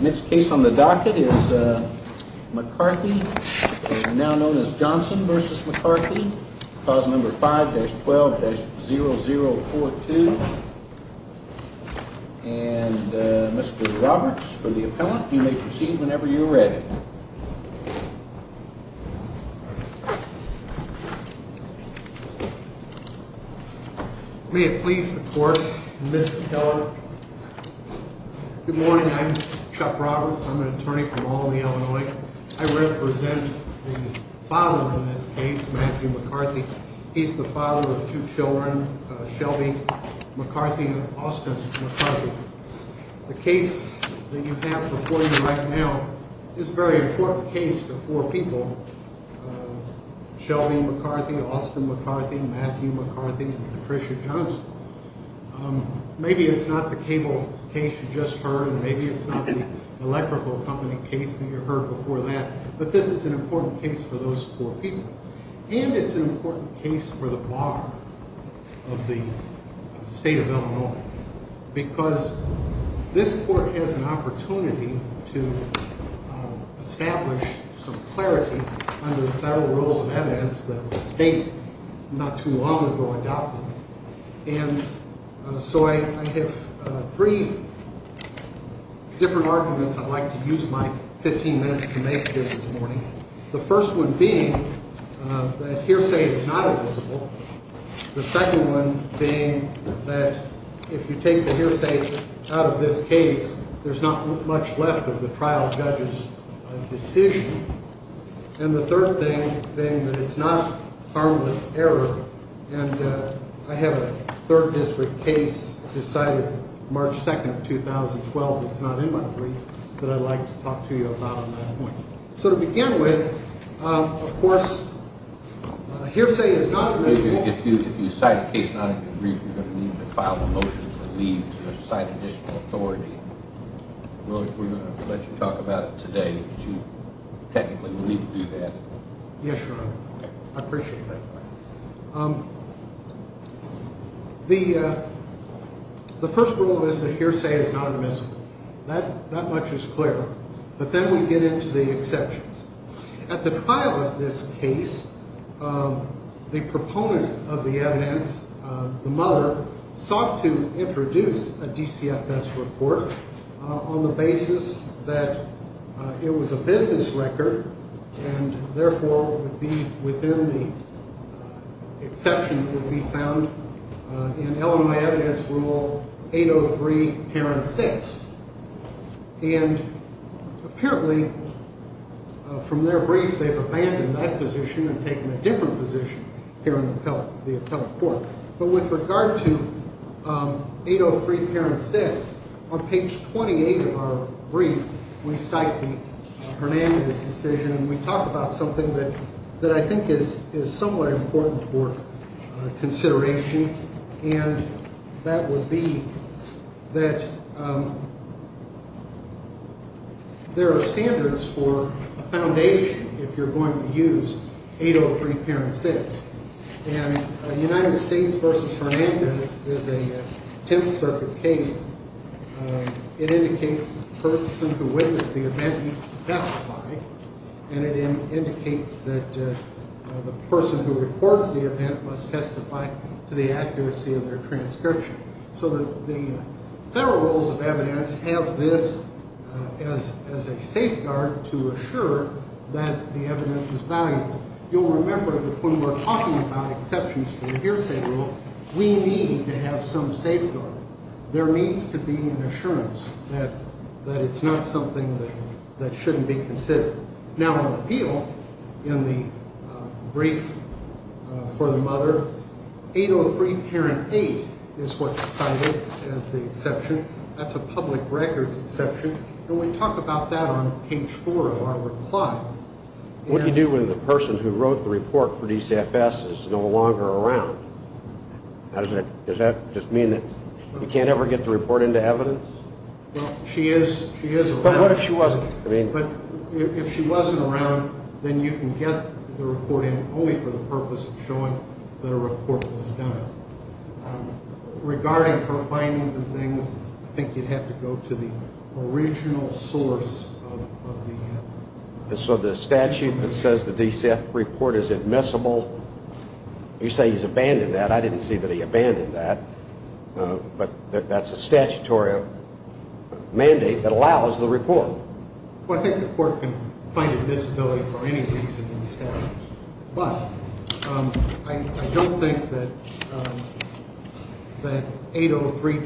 Next case on the docket is McCarthy, now known as Johnson v. McCarthy, Clause No. 5-12-0042. And Mr. Roberts for the appellant, you may proceed whenever you're ready. May it please the court, Mr. Keller. Good morning, I'm Chuck Roberts. I'm an attorney from Albany, Illinois. I represent the father in this case, Matthew McCarthy. He's the father of two children, Shelby McCarthy and Austin McCarthy. The case that you have before you right now is a very important case for four people, Shelby McCarthy, Austin McCarthy, Matthew McCarthy, and Patricia Johnson. Maybe it's not the cable case you just heard, and maybe it's not the electrical company case that you heard before that, but this is an important case for those four people. And it's an important case for the bar of the state of Illinois, because this court has an opportunity to establish some clarity under the federal rules of evidence that the state not too long ago adopted. And so I have three different arguments I'd like to use my 15 minutes to make here this morning. The first one being that hearsay is not illicit. The second one being that if you take the hearsay out of this case, there's not much left of the trial judge's decision. And the third thing being that it's not harmless error, and I have a third district case decided March 2nd of 2012 that's not in my brief that I'd like to talk to you about on that point. So to begin with, of course, hearsay is not admissible. If you cite a case not in your brief, you're going to need to file a motion to leave to cite additional authority. We're going to let you talk about it today, but you technically will need to do that. Yes, Your Honor. I appreciate that. The first rule is that hearsay is not admissible. That much is clear. But then we get into the exceptions. At the trial of this case, the proponent of the evidence, the mother, sought to introduce a DCFS report on the basis that it was a business record and therefore would be within the exception that would be found in Illinois Evidence Rule 803, Parent 6. And apparently from their brief, they've abandoned that position and taken a different position here in the appellate court. But with regard to 803, Parent 6, on page 28 of our brief, we cite the Hernandez decision. And we talk about something that I think is somewhat important for consideration, and that would be that there are standards for a foundation if you're going to use 803, Parent 6. And United States v. Hernandez is a Tenth Circuit case. It indicates the person who witnessed the event needs to testify. And it indicates that the person who records the event must testify to the accuracy of their transcription. So the federal rules of evidence have this as a safeguard to assure that the evidence is valuable. You'll remember that when we're talking about exceptions for the hearsay rule, we need to have some safeguard. There needs to be an assurance that it's not something that shouldn't be considered. Now, on appeal, in the brief for the mother, 803, Parent 8 is what's cited as the exception. That's a public records exception, and we talk about that on page 4 of our reply. What do you do when the person who wrote the report for DCFS is no longer around? Does that just mean that you can't ever get the report into evidence? Well, she is around. But what if she wasn't? But if she wasn't around, then you can get the report in only for the purpose of showing that a report was done. Regarding her findings and things, I think you'd have to go to the original source of the evidence. So the statute that says the DCFS report is admissible, you say he's abandoned that. I didn't see that he abandoned that. But that's a statutory mandate that allows the report. Well, I think the court can find admissibility for any reason in the statute. But I don't think that 803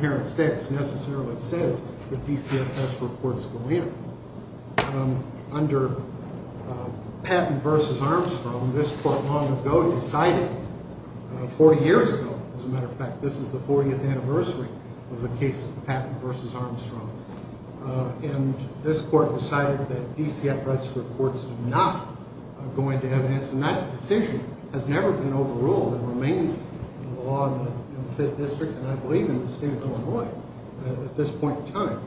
Parent 6 necessarily says that DCFS reports go in. Under Patton v. Armstrong, this court long ago decided 40 years ago, as a matter of fact, this is the 40th anniversary of the case of Patton v. Armstrong. And this court decided that DCFS reports do not go into evidence. And that decision has never been overruled and remains the law in the 5th District and I believe in the state of Illinois at this point in time.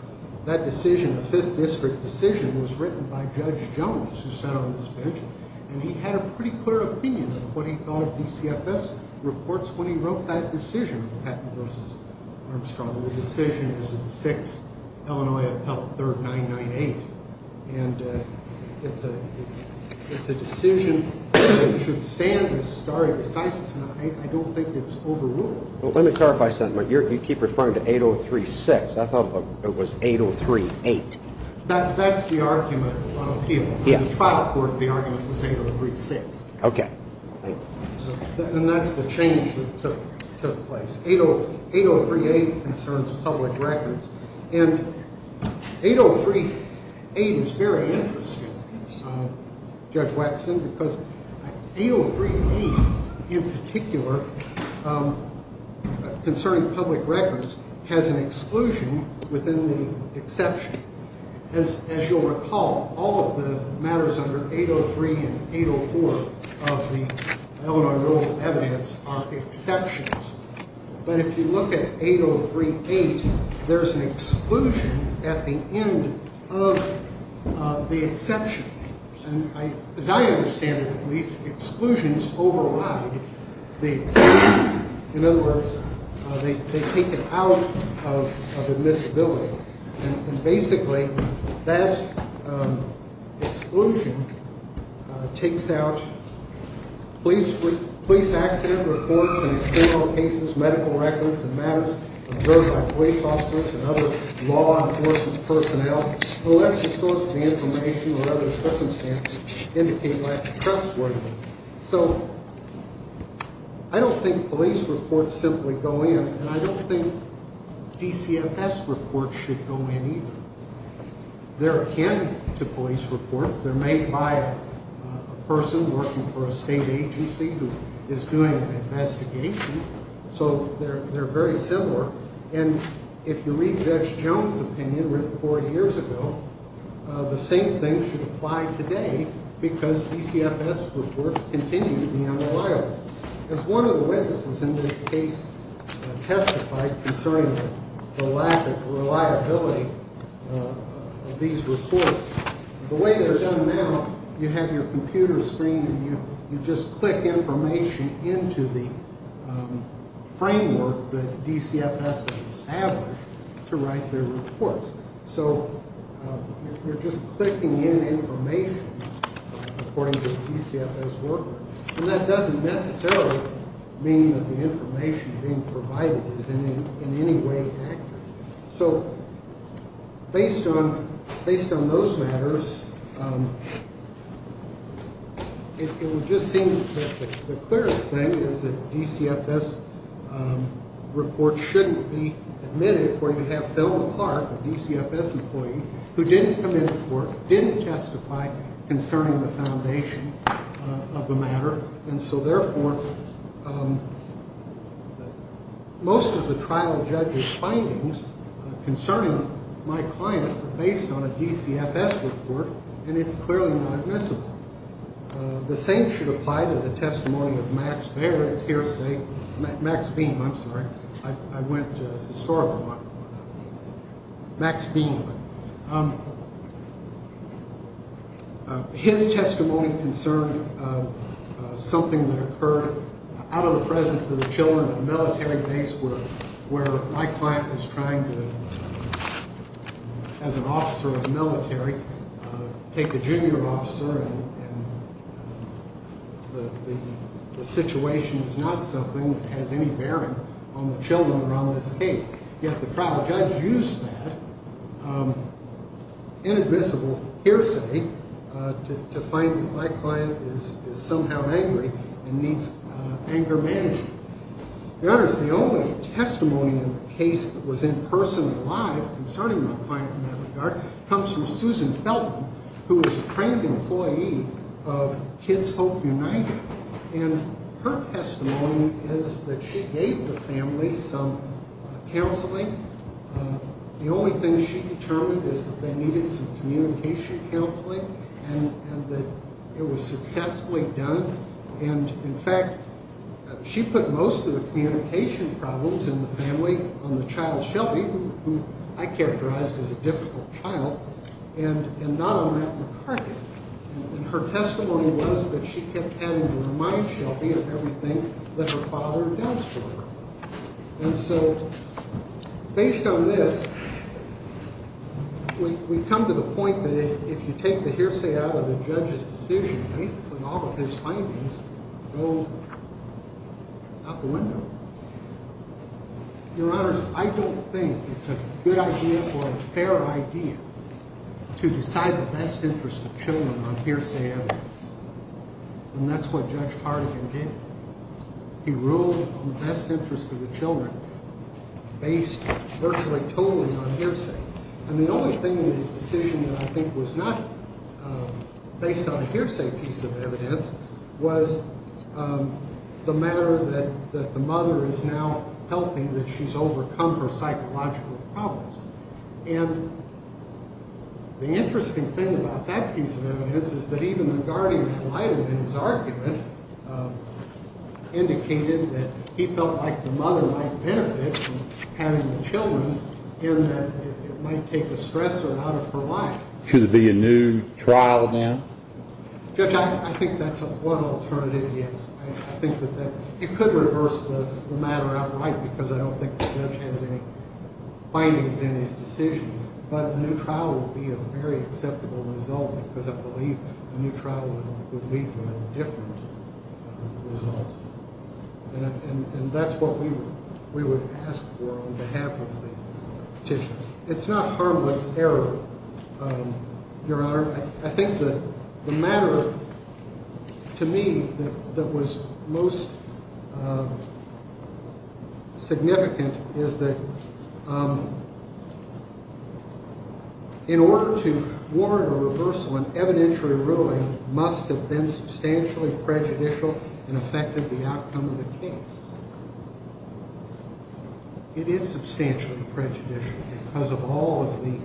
That decision, the 5th District decision, was written by Judge Jones, who sat on this bench, and he had a pretty clear opinion of what he thought DCFS reports, when he wrote that decision of Patton v. Armstrong. The decision is in 6 Illinois Appellate 3998. And it's a decision that should stand as stare decisis. And I don't think it's overruled. Let me clarify something. You keep referring to 803-6. I thought it was 803-8. That's the argument on appeal. In the final court, the argument was 803-6. Okay. And that's the change that took place. 803-8 concerns public records. And 803-8 is very interesting, Judge Waxman, because 803-8 in particular concerning public records has an exclusion within the exception. As you'll recall, all of the matters under 803 and 804 of the Illinois rule of evidence are exceptions. But if you look at 803-8, there's an exclusion at the end of the exception. As I understand it, these exclusions override the exception. In other words, they take it out of admissibility. And basically, that exclusion takes out police accident reports and criminal cases, medical records and matters observed by police officers and other law enforcement personnel, unless the source of information or other circumstances indicate lack of trustworthiness. So I don't think police reports simply go in. And I don't think DCFS reports should go in either. They're a candidate to police reports. They're made by a person working for a state agency who is doing an investigation. So they're very similar. And if you read Judge Jones' opinion written 40 years ago, the same thing should apply today because DCFS reports continue to be unreliable. As one of the witnesses in this case testified concerning the lack of reliability of these reports, the way they're done now, you have your computer screen, and you just click information into the framework that DCFS has established to write their reports. So you're just clicking in information according to the DCFS workbook. And that doesn't necessarily mean that the information being provided is in any way accurate. So based on those matters, it would just seem that the clearest thing is that DCFS reports shouldn't be admitted where you have Phil McClark, a DCFS employee, who didn't come in for it, didn't testify concerning the foundation of the matter. And so, therefore, most of the trial judge's findings concerning my client are based on a DCFS report, and it's clearly not admissible. The same should apply to the testimony of Max Beam. I'm sorry. I went historical. Max Beam. His testimony concerned something that occurred out of the presence of the children at a military base where my client was trying to, as an officer of the military, take a junior officer, and the situation is not something that has any bearing on the children around this case. Yet the trial judge used that inadmissible hearsay to find that my client is somehow angry and needs anger management. Your Honor, the only testimony in the case that was in person, live, concerning my client in that regard, comes from Susan Felton, who is a trained employee of Kids Hope United, and her testimony is that she gave the family some counseling. The only thing she determined is that they needed some communication counseling and that it was successfully done, and, in fact, she put most of the communication problems in the family on the child, Shelby, who I characterized as a difficult child, and not on that McCarthy. And her testimony was that she kept having to remind Shelby of everything that her father does for her. And so based on this, we've come to the point that if you take the hearsay out of the judge's decision, basically all of his findings go out the window. Your Honors, I don't think it's a good idea or a fair idea to decide the best interest of children on hearsay evidence, and that's what Judge Hardigan did. He ruled on the best interest of the children based virtually totally on hearsay. And the only thing in his decision that I think was not based on a hearsay piece of evidence was the matter that the mother is now healthy, that she's overcome her psychological problems. And the interesting thing about that piece of evidence is that even the guardian in his argument indicated that he felt like the mother might benefit from having the children and that it might take the stressor out of her life. Should there be a new trial then? Judge, I think that's one alternative, yes. I think that you could reverse the matter outright because I don't think the judge has any findings in his decision. But a new trial would be a very acceptable result because I believe a new trial would lead to a different result. And that's what we would ask for on behalf of the petition. It's not harmless error, Your Honor. I think the matter to me that was most significant is that in order to warrant a reversal, an evidentiary ruling must have been substantially prejudicial and affected the outcome of the case. It is substantially prejudicial because of all of the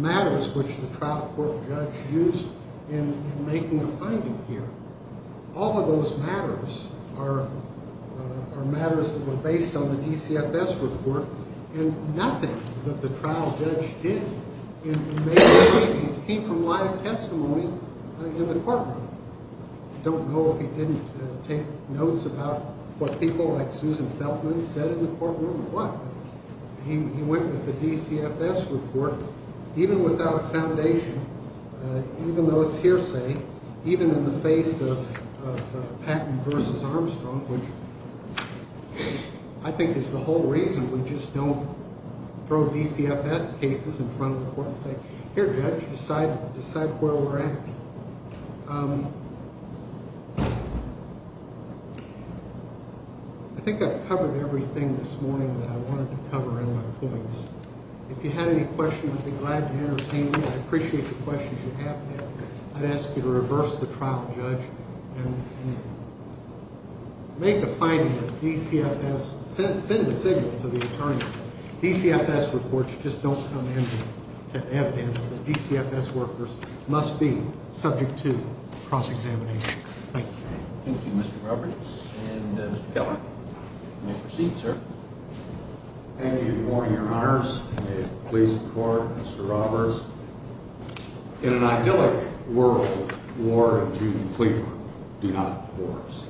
matters which the trial court judge used in making a finding here. All of those matters are matters that were based on the DCFS report and nothing that the trial judge did in making the findings came from live testimony in the courtroom. I don't know if he didn't take notes about what people like Susan Feltman said in the courtroom or what. He went with the DCFS report even without a foundation, even though it's hearsay, even in the face of Patton v. Armstrong, which I think is the whole reason we just don't throw DCFS cases in front of the court and say, here, judge, decide where we're at. I think I've covered everything this morning that I wanted to cover in my points. If you had any questions, I'd be glad to entertain you. I appreciate the questions you have had. I'd ask you to reverse the trial judge and make the finding that DCFS – send the signal to the attorneys. DCFS reports just don't come in with evidence that DCFS workers must be subject to cross-examination. Thank you. Thank you, Mr. Roberts. And Mr. Keller, you may proceed, sir. Thank you for your honors. May it please the court, Mr. Roberts. In an idyllic world, Ward and Judy Cleveland do not divorce.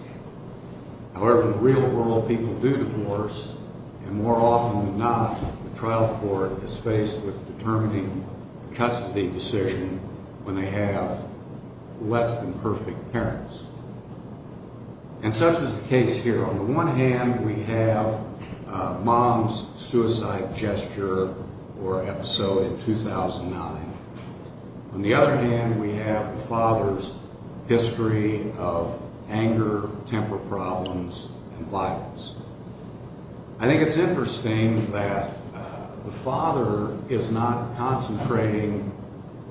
However, in the real world, people do divorce, and more often than not, the trial court is faced with determining custody decision when they have less than perfect parents. And such is the case here. On the one hand, we have mom's suicide gesture or episode in 2009. On the other hand, we have the father's history of anger, temper problems, and violence. I think it's interesting that the father is not concentrating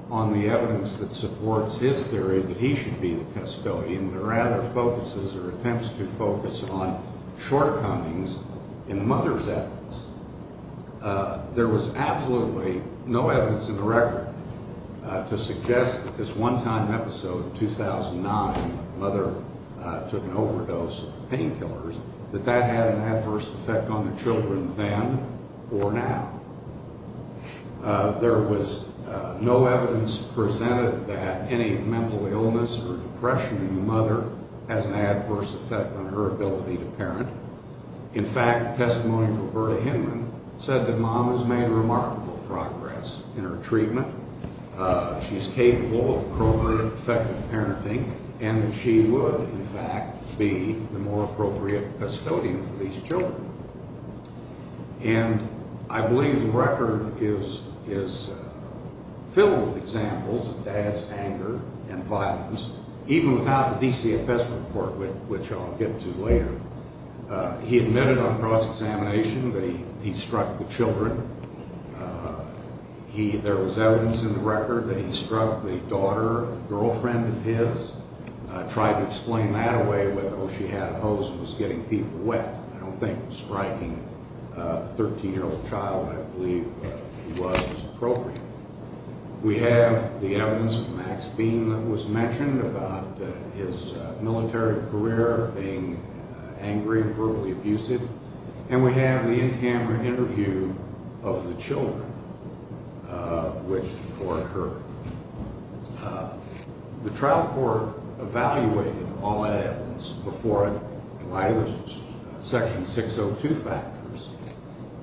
on the evidence that supports his theory that he should be the custodian, but rather focuses or attempts to focus on shortcomings in the mother's evidence. There was absolutely no evidence in the record to suggest that this one-time episode in 2009, the mother took an overdose of painkillers, that that had an adverse effect on the children then or now. There was no evidence presented that any mental illness or depression in the mother has an adverse effect on her ability to parent. In fact, testimony from Roberta Hinman said that mom has made remarkable progress in her treatment. She's capable of appropriate, effective parenting, and that she would, in fact, be the more appropriate custodian for these children. And I believe the record is filled with examples of dad's anger and violence, even without the DCFS report, which I'll get to later. He admitted on cross-examination that he struck the children. There was evidence in the record that he struck the daughter, girlfriend of his. I tried to explain that away, whether or not she had a hose and was getting people wet. I don't think striking a 13-year-old child, I believe, was appropriate. We have the evidence of Max Bean that was mentioned, about his military career, being angry and brutally abusive. And we have the in-camera interview of the children, which the court heard. The trial court evaluated all that evidence before it, in light of the Section 602 factors,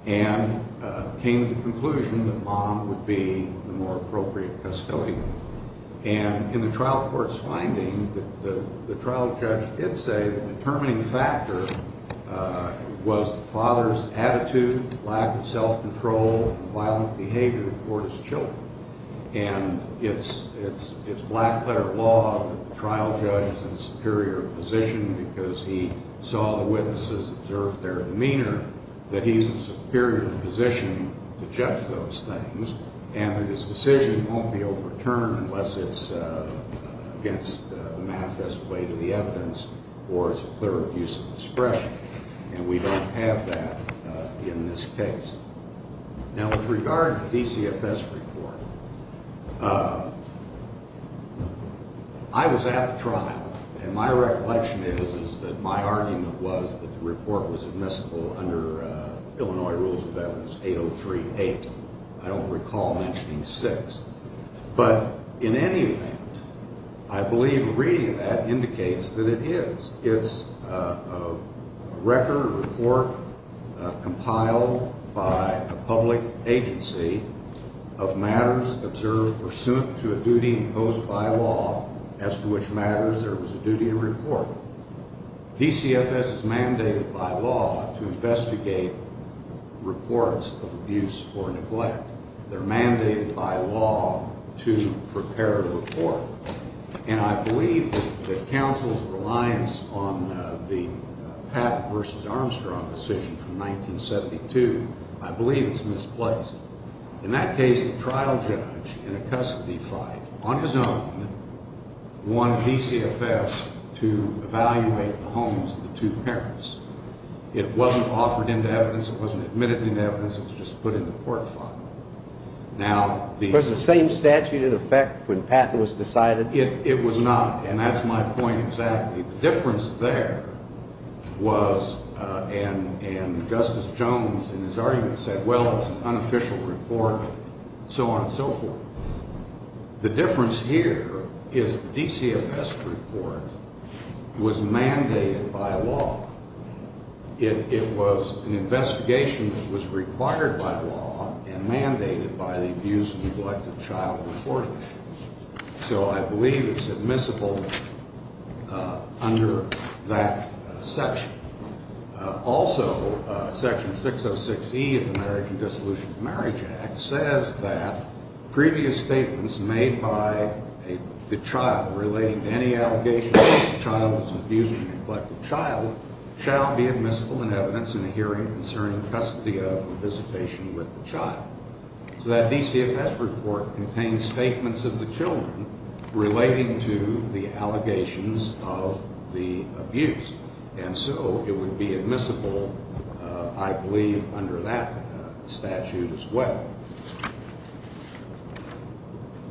and came to the conclusion that mom would be the more appropriate custodian. And in the trial court's finding, the trial judge did say the determining factor was the father's attitude, lack of self-control, and violent behavior toward his children. And it's black-letter law that the trial judge is in a superior position because he saw the witnesses observe their demeanor, that he's in a superior position to judge those things, and that his decision won't be overturned unless it's against the manifest weight of the evidence or it's a clear abuse of discretion. And we don't have that in this case. Now, with regard to the DCFS report, I was at the trial, and my recollection is that my argument was that the report was admissible under Illinois Rules of Evidence 803-8. I don't recall mentioning 6. But in any event, I believe reading that indicates that it is. It's a record report compiled by a public agency of matters observed pursuant to a duty imposed by law as to which matters there was a duty to report. DCFS is mandated by law to investigate reports of abuse or neglect. They're mandated by law to prepare a report. And I believe that counsel's reliance on the Patton v. Armstrong decision from 1972, I believe it's misplaced. In that case, the trial judge in a custody fight on his own won DCFS to evaluate the homes of the two parents. It wasn't offered into evidence. It wasn't admitted into evidence. It was just put in the court file. Was the same statute in effect when Patton was decided? It was not, and that's my point exactly. The difference there was, and Justice Jones in his argument said, well, it's an unofficial report, so on and so forth. The difference here is the DCFS report was mandated by law. It was an investigation that was required by law and mandated by the abuse and neglect of child reporting. So I believe it's admissible under that section. Also, Section 606E of the Marriage and Dissolution of Marriage Act says that previous statements made by the child relating to any allegations of abuse of a neglected child shall be admissible in evidence in a hearing concerning custody of or visitation with the child. So that DCFS report contains statements of the children relating to the allegations of the abuse. And so it would be admissible, I believe, under that statute as well.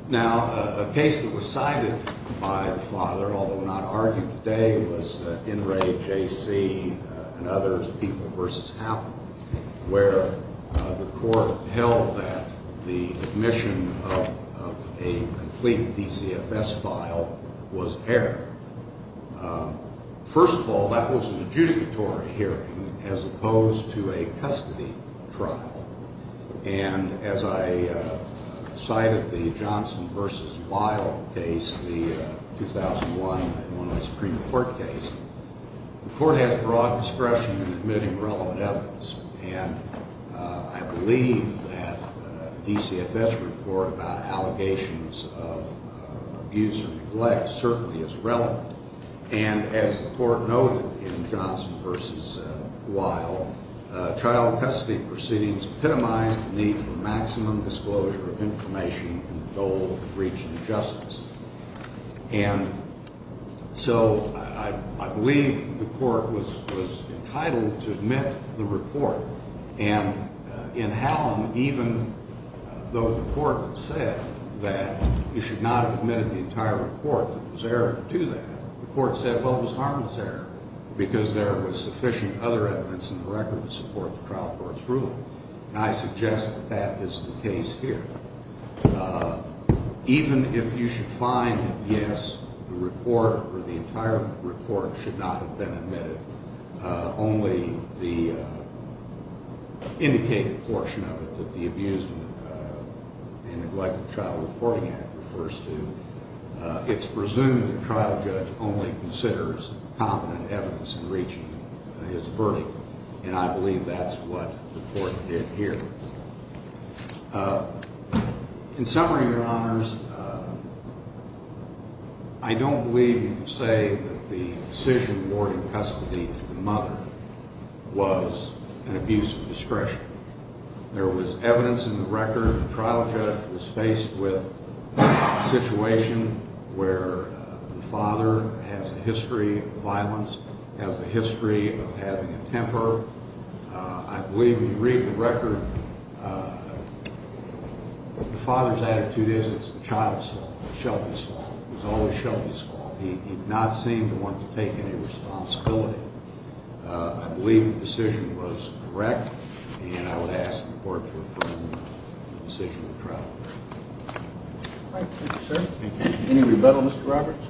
Now, a case that was cited by the father, although not argued today, was NRAJC and others, People v. Happen, where the court held that the admission of a complete DCFS file was error. First of all, that was an adjudicatory hearing as opposed to a custody trial. And as I cited the Johnson v. Weill case, the 2001 Supreme Court case, the court has broad discretion in admitting relevant evidence. And I believe that a DCFS report about allegations of abuse or neglect certainly is relevant. And as the court noted in Johnson v. Weill, child custody proceedings epitomize the need for maximum disclosure of information in the goal of the breach of justice. And so I believe the court was entitled to admit the report. And in Hallam, even though the court said that you should not have admitted the entire report, it was error to do that, the court said, well, it was harmless error because there was sufficient other evidence in the record to support the trial court's ruling. And I suggest that that is the case here. Even if you should find that, yes, the report or the entire report should not have been admitted, only the indicated portion of it that the Abuse and Neglect of Child Reporting Act refers to, it's presumed the trial judge only considers competent evidence in reaching his verdict. And I believe that's what the court did here. In summary, Your Honors, I don't believe you can say that the decision rewarding custody to the mother was an abuse of discretion. There was evidence in the record. The trial judge was faced with a situation where the father has a history of violence, has a history of having a temper. I believe when you read the record, the father's attitude is it's the child's fault, it's Shelby's fault. It was always Shelby's fault. He did not seem to want to take any responsibility. I believe the decision was correct, and I would ask the court to affirm the decision of the trial court. Thank you, sir. Any rebuttal, Mr. Roberts?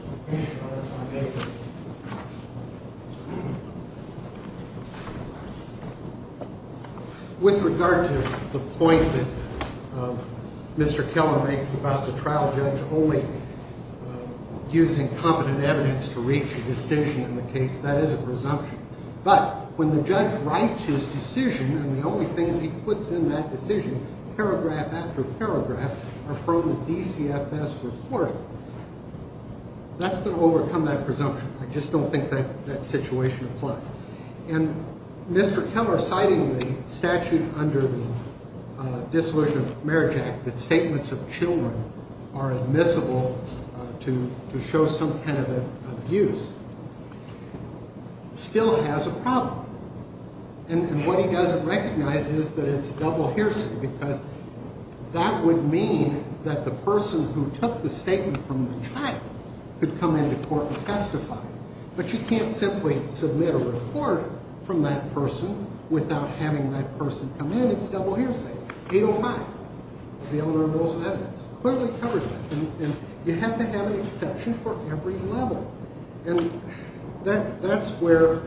With regard to the point that Mr. Keller makes about the trial judge only using competent evidence to reach a decision in the case, that is a presumption. But when the judge writes his decision and the only things he puts in that decision, paragraph after paragraph, are from the DCFS report, that's going to overcome that presumption. I just don't think that situation applies. And Mr. Keller, citing the statute under the Dissolution of Marriage Act that statements of children are admissible to show some kind of abuse, still has a problem. And what he doesn't recognize is that it's double hearsay, because that would mean that the person who took the statement from the child could come into court and testify. But you can't simply submit a report from that person without having that person come in. It's double hearsay. 805, the Eleanor Rules of Evidence, clearly covers that. And you have to have an exception for every level. And that's where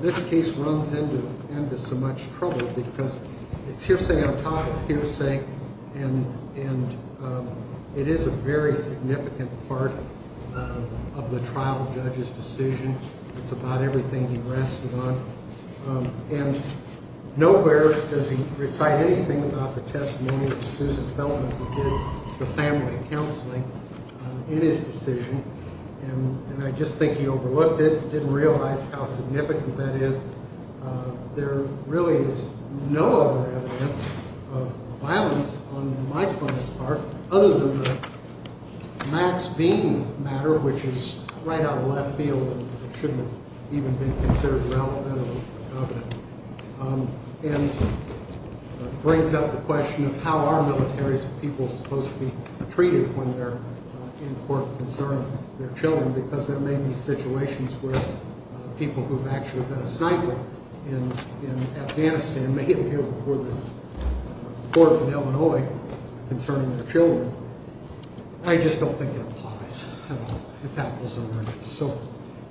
this case runs into so much trouble, because it's hearsay on top of hearsay, and it is a very significant part of the trial judge's decision. It's about everything he rested on. And nowhere does he recite anything about the testimony of Susan Feldman who did the family counseling in his decision. And I just think he overlooked it, didn't realize how significant that is. There really is no other evidence of violence on my part, other than the Max Bean matter, which is right out of left field and shouldn't have even been considered relevant. And it brings up the question of how are militaries and people supposed to be treated when they're in court concerning their children, because there may be situations where people who have actually been a sniper in Afghanistan may appear before this court in Illinois concerning their children. I just don't think it applies at all. It's apples and oranges. So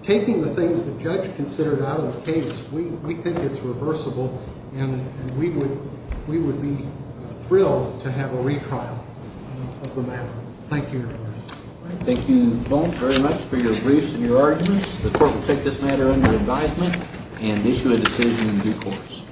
taking the things the judge considered out of the case, we think it's reversible, and we would be thrilled to have a retrial of the matter. Thank you. Thank you both very much for your briefs and your arguments. The court will take this matter under advisement and issue a decision in due course.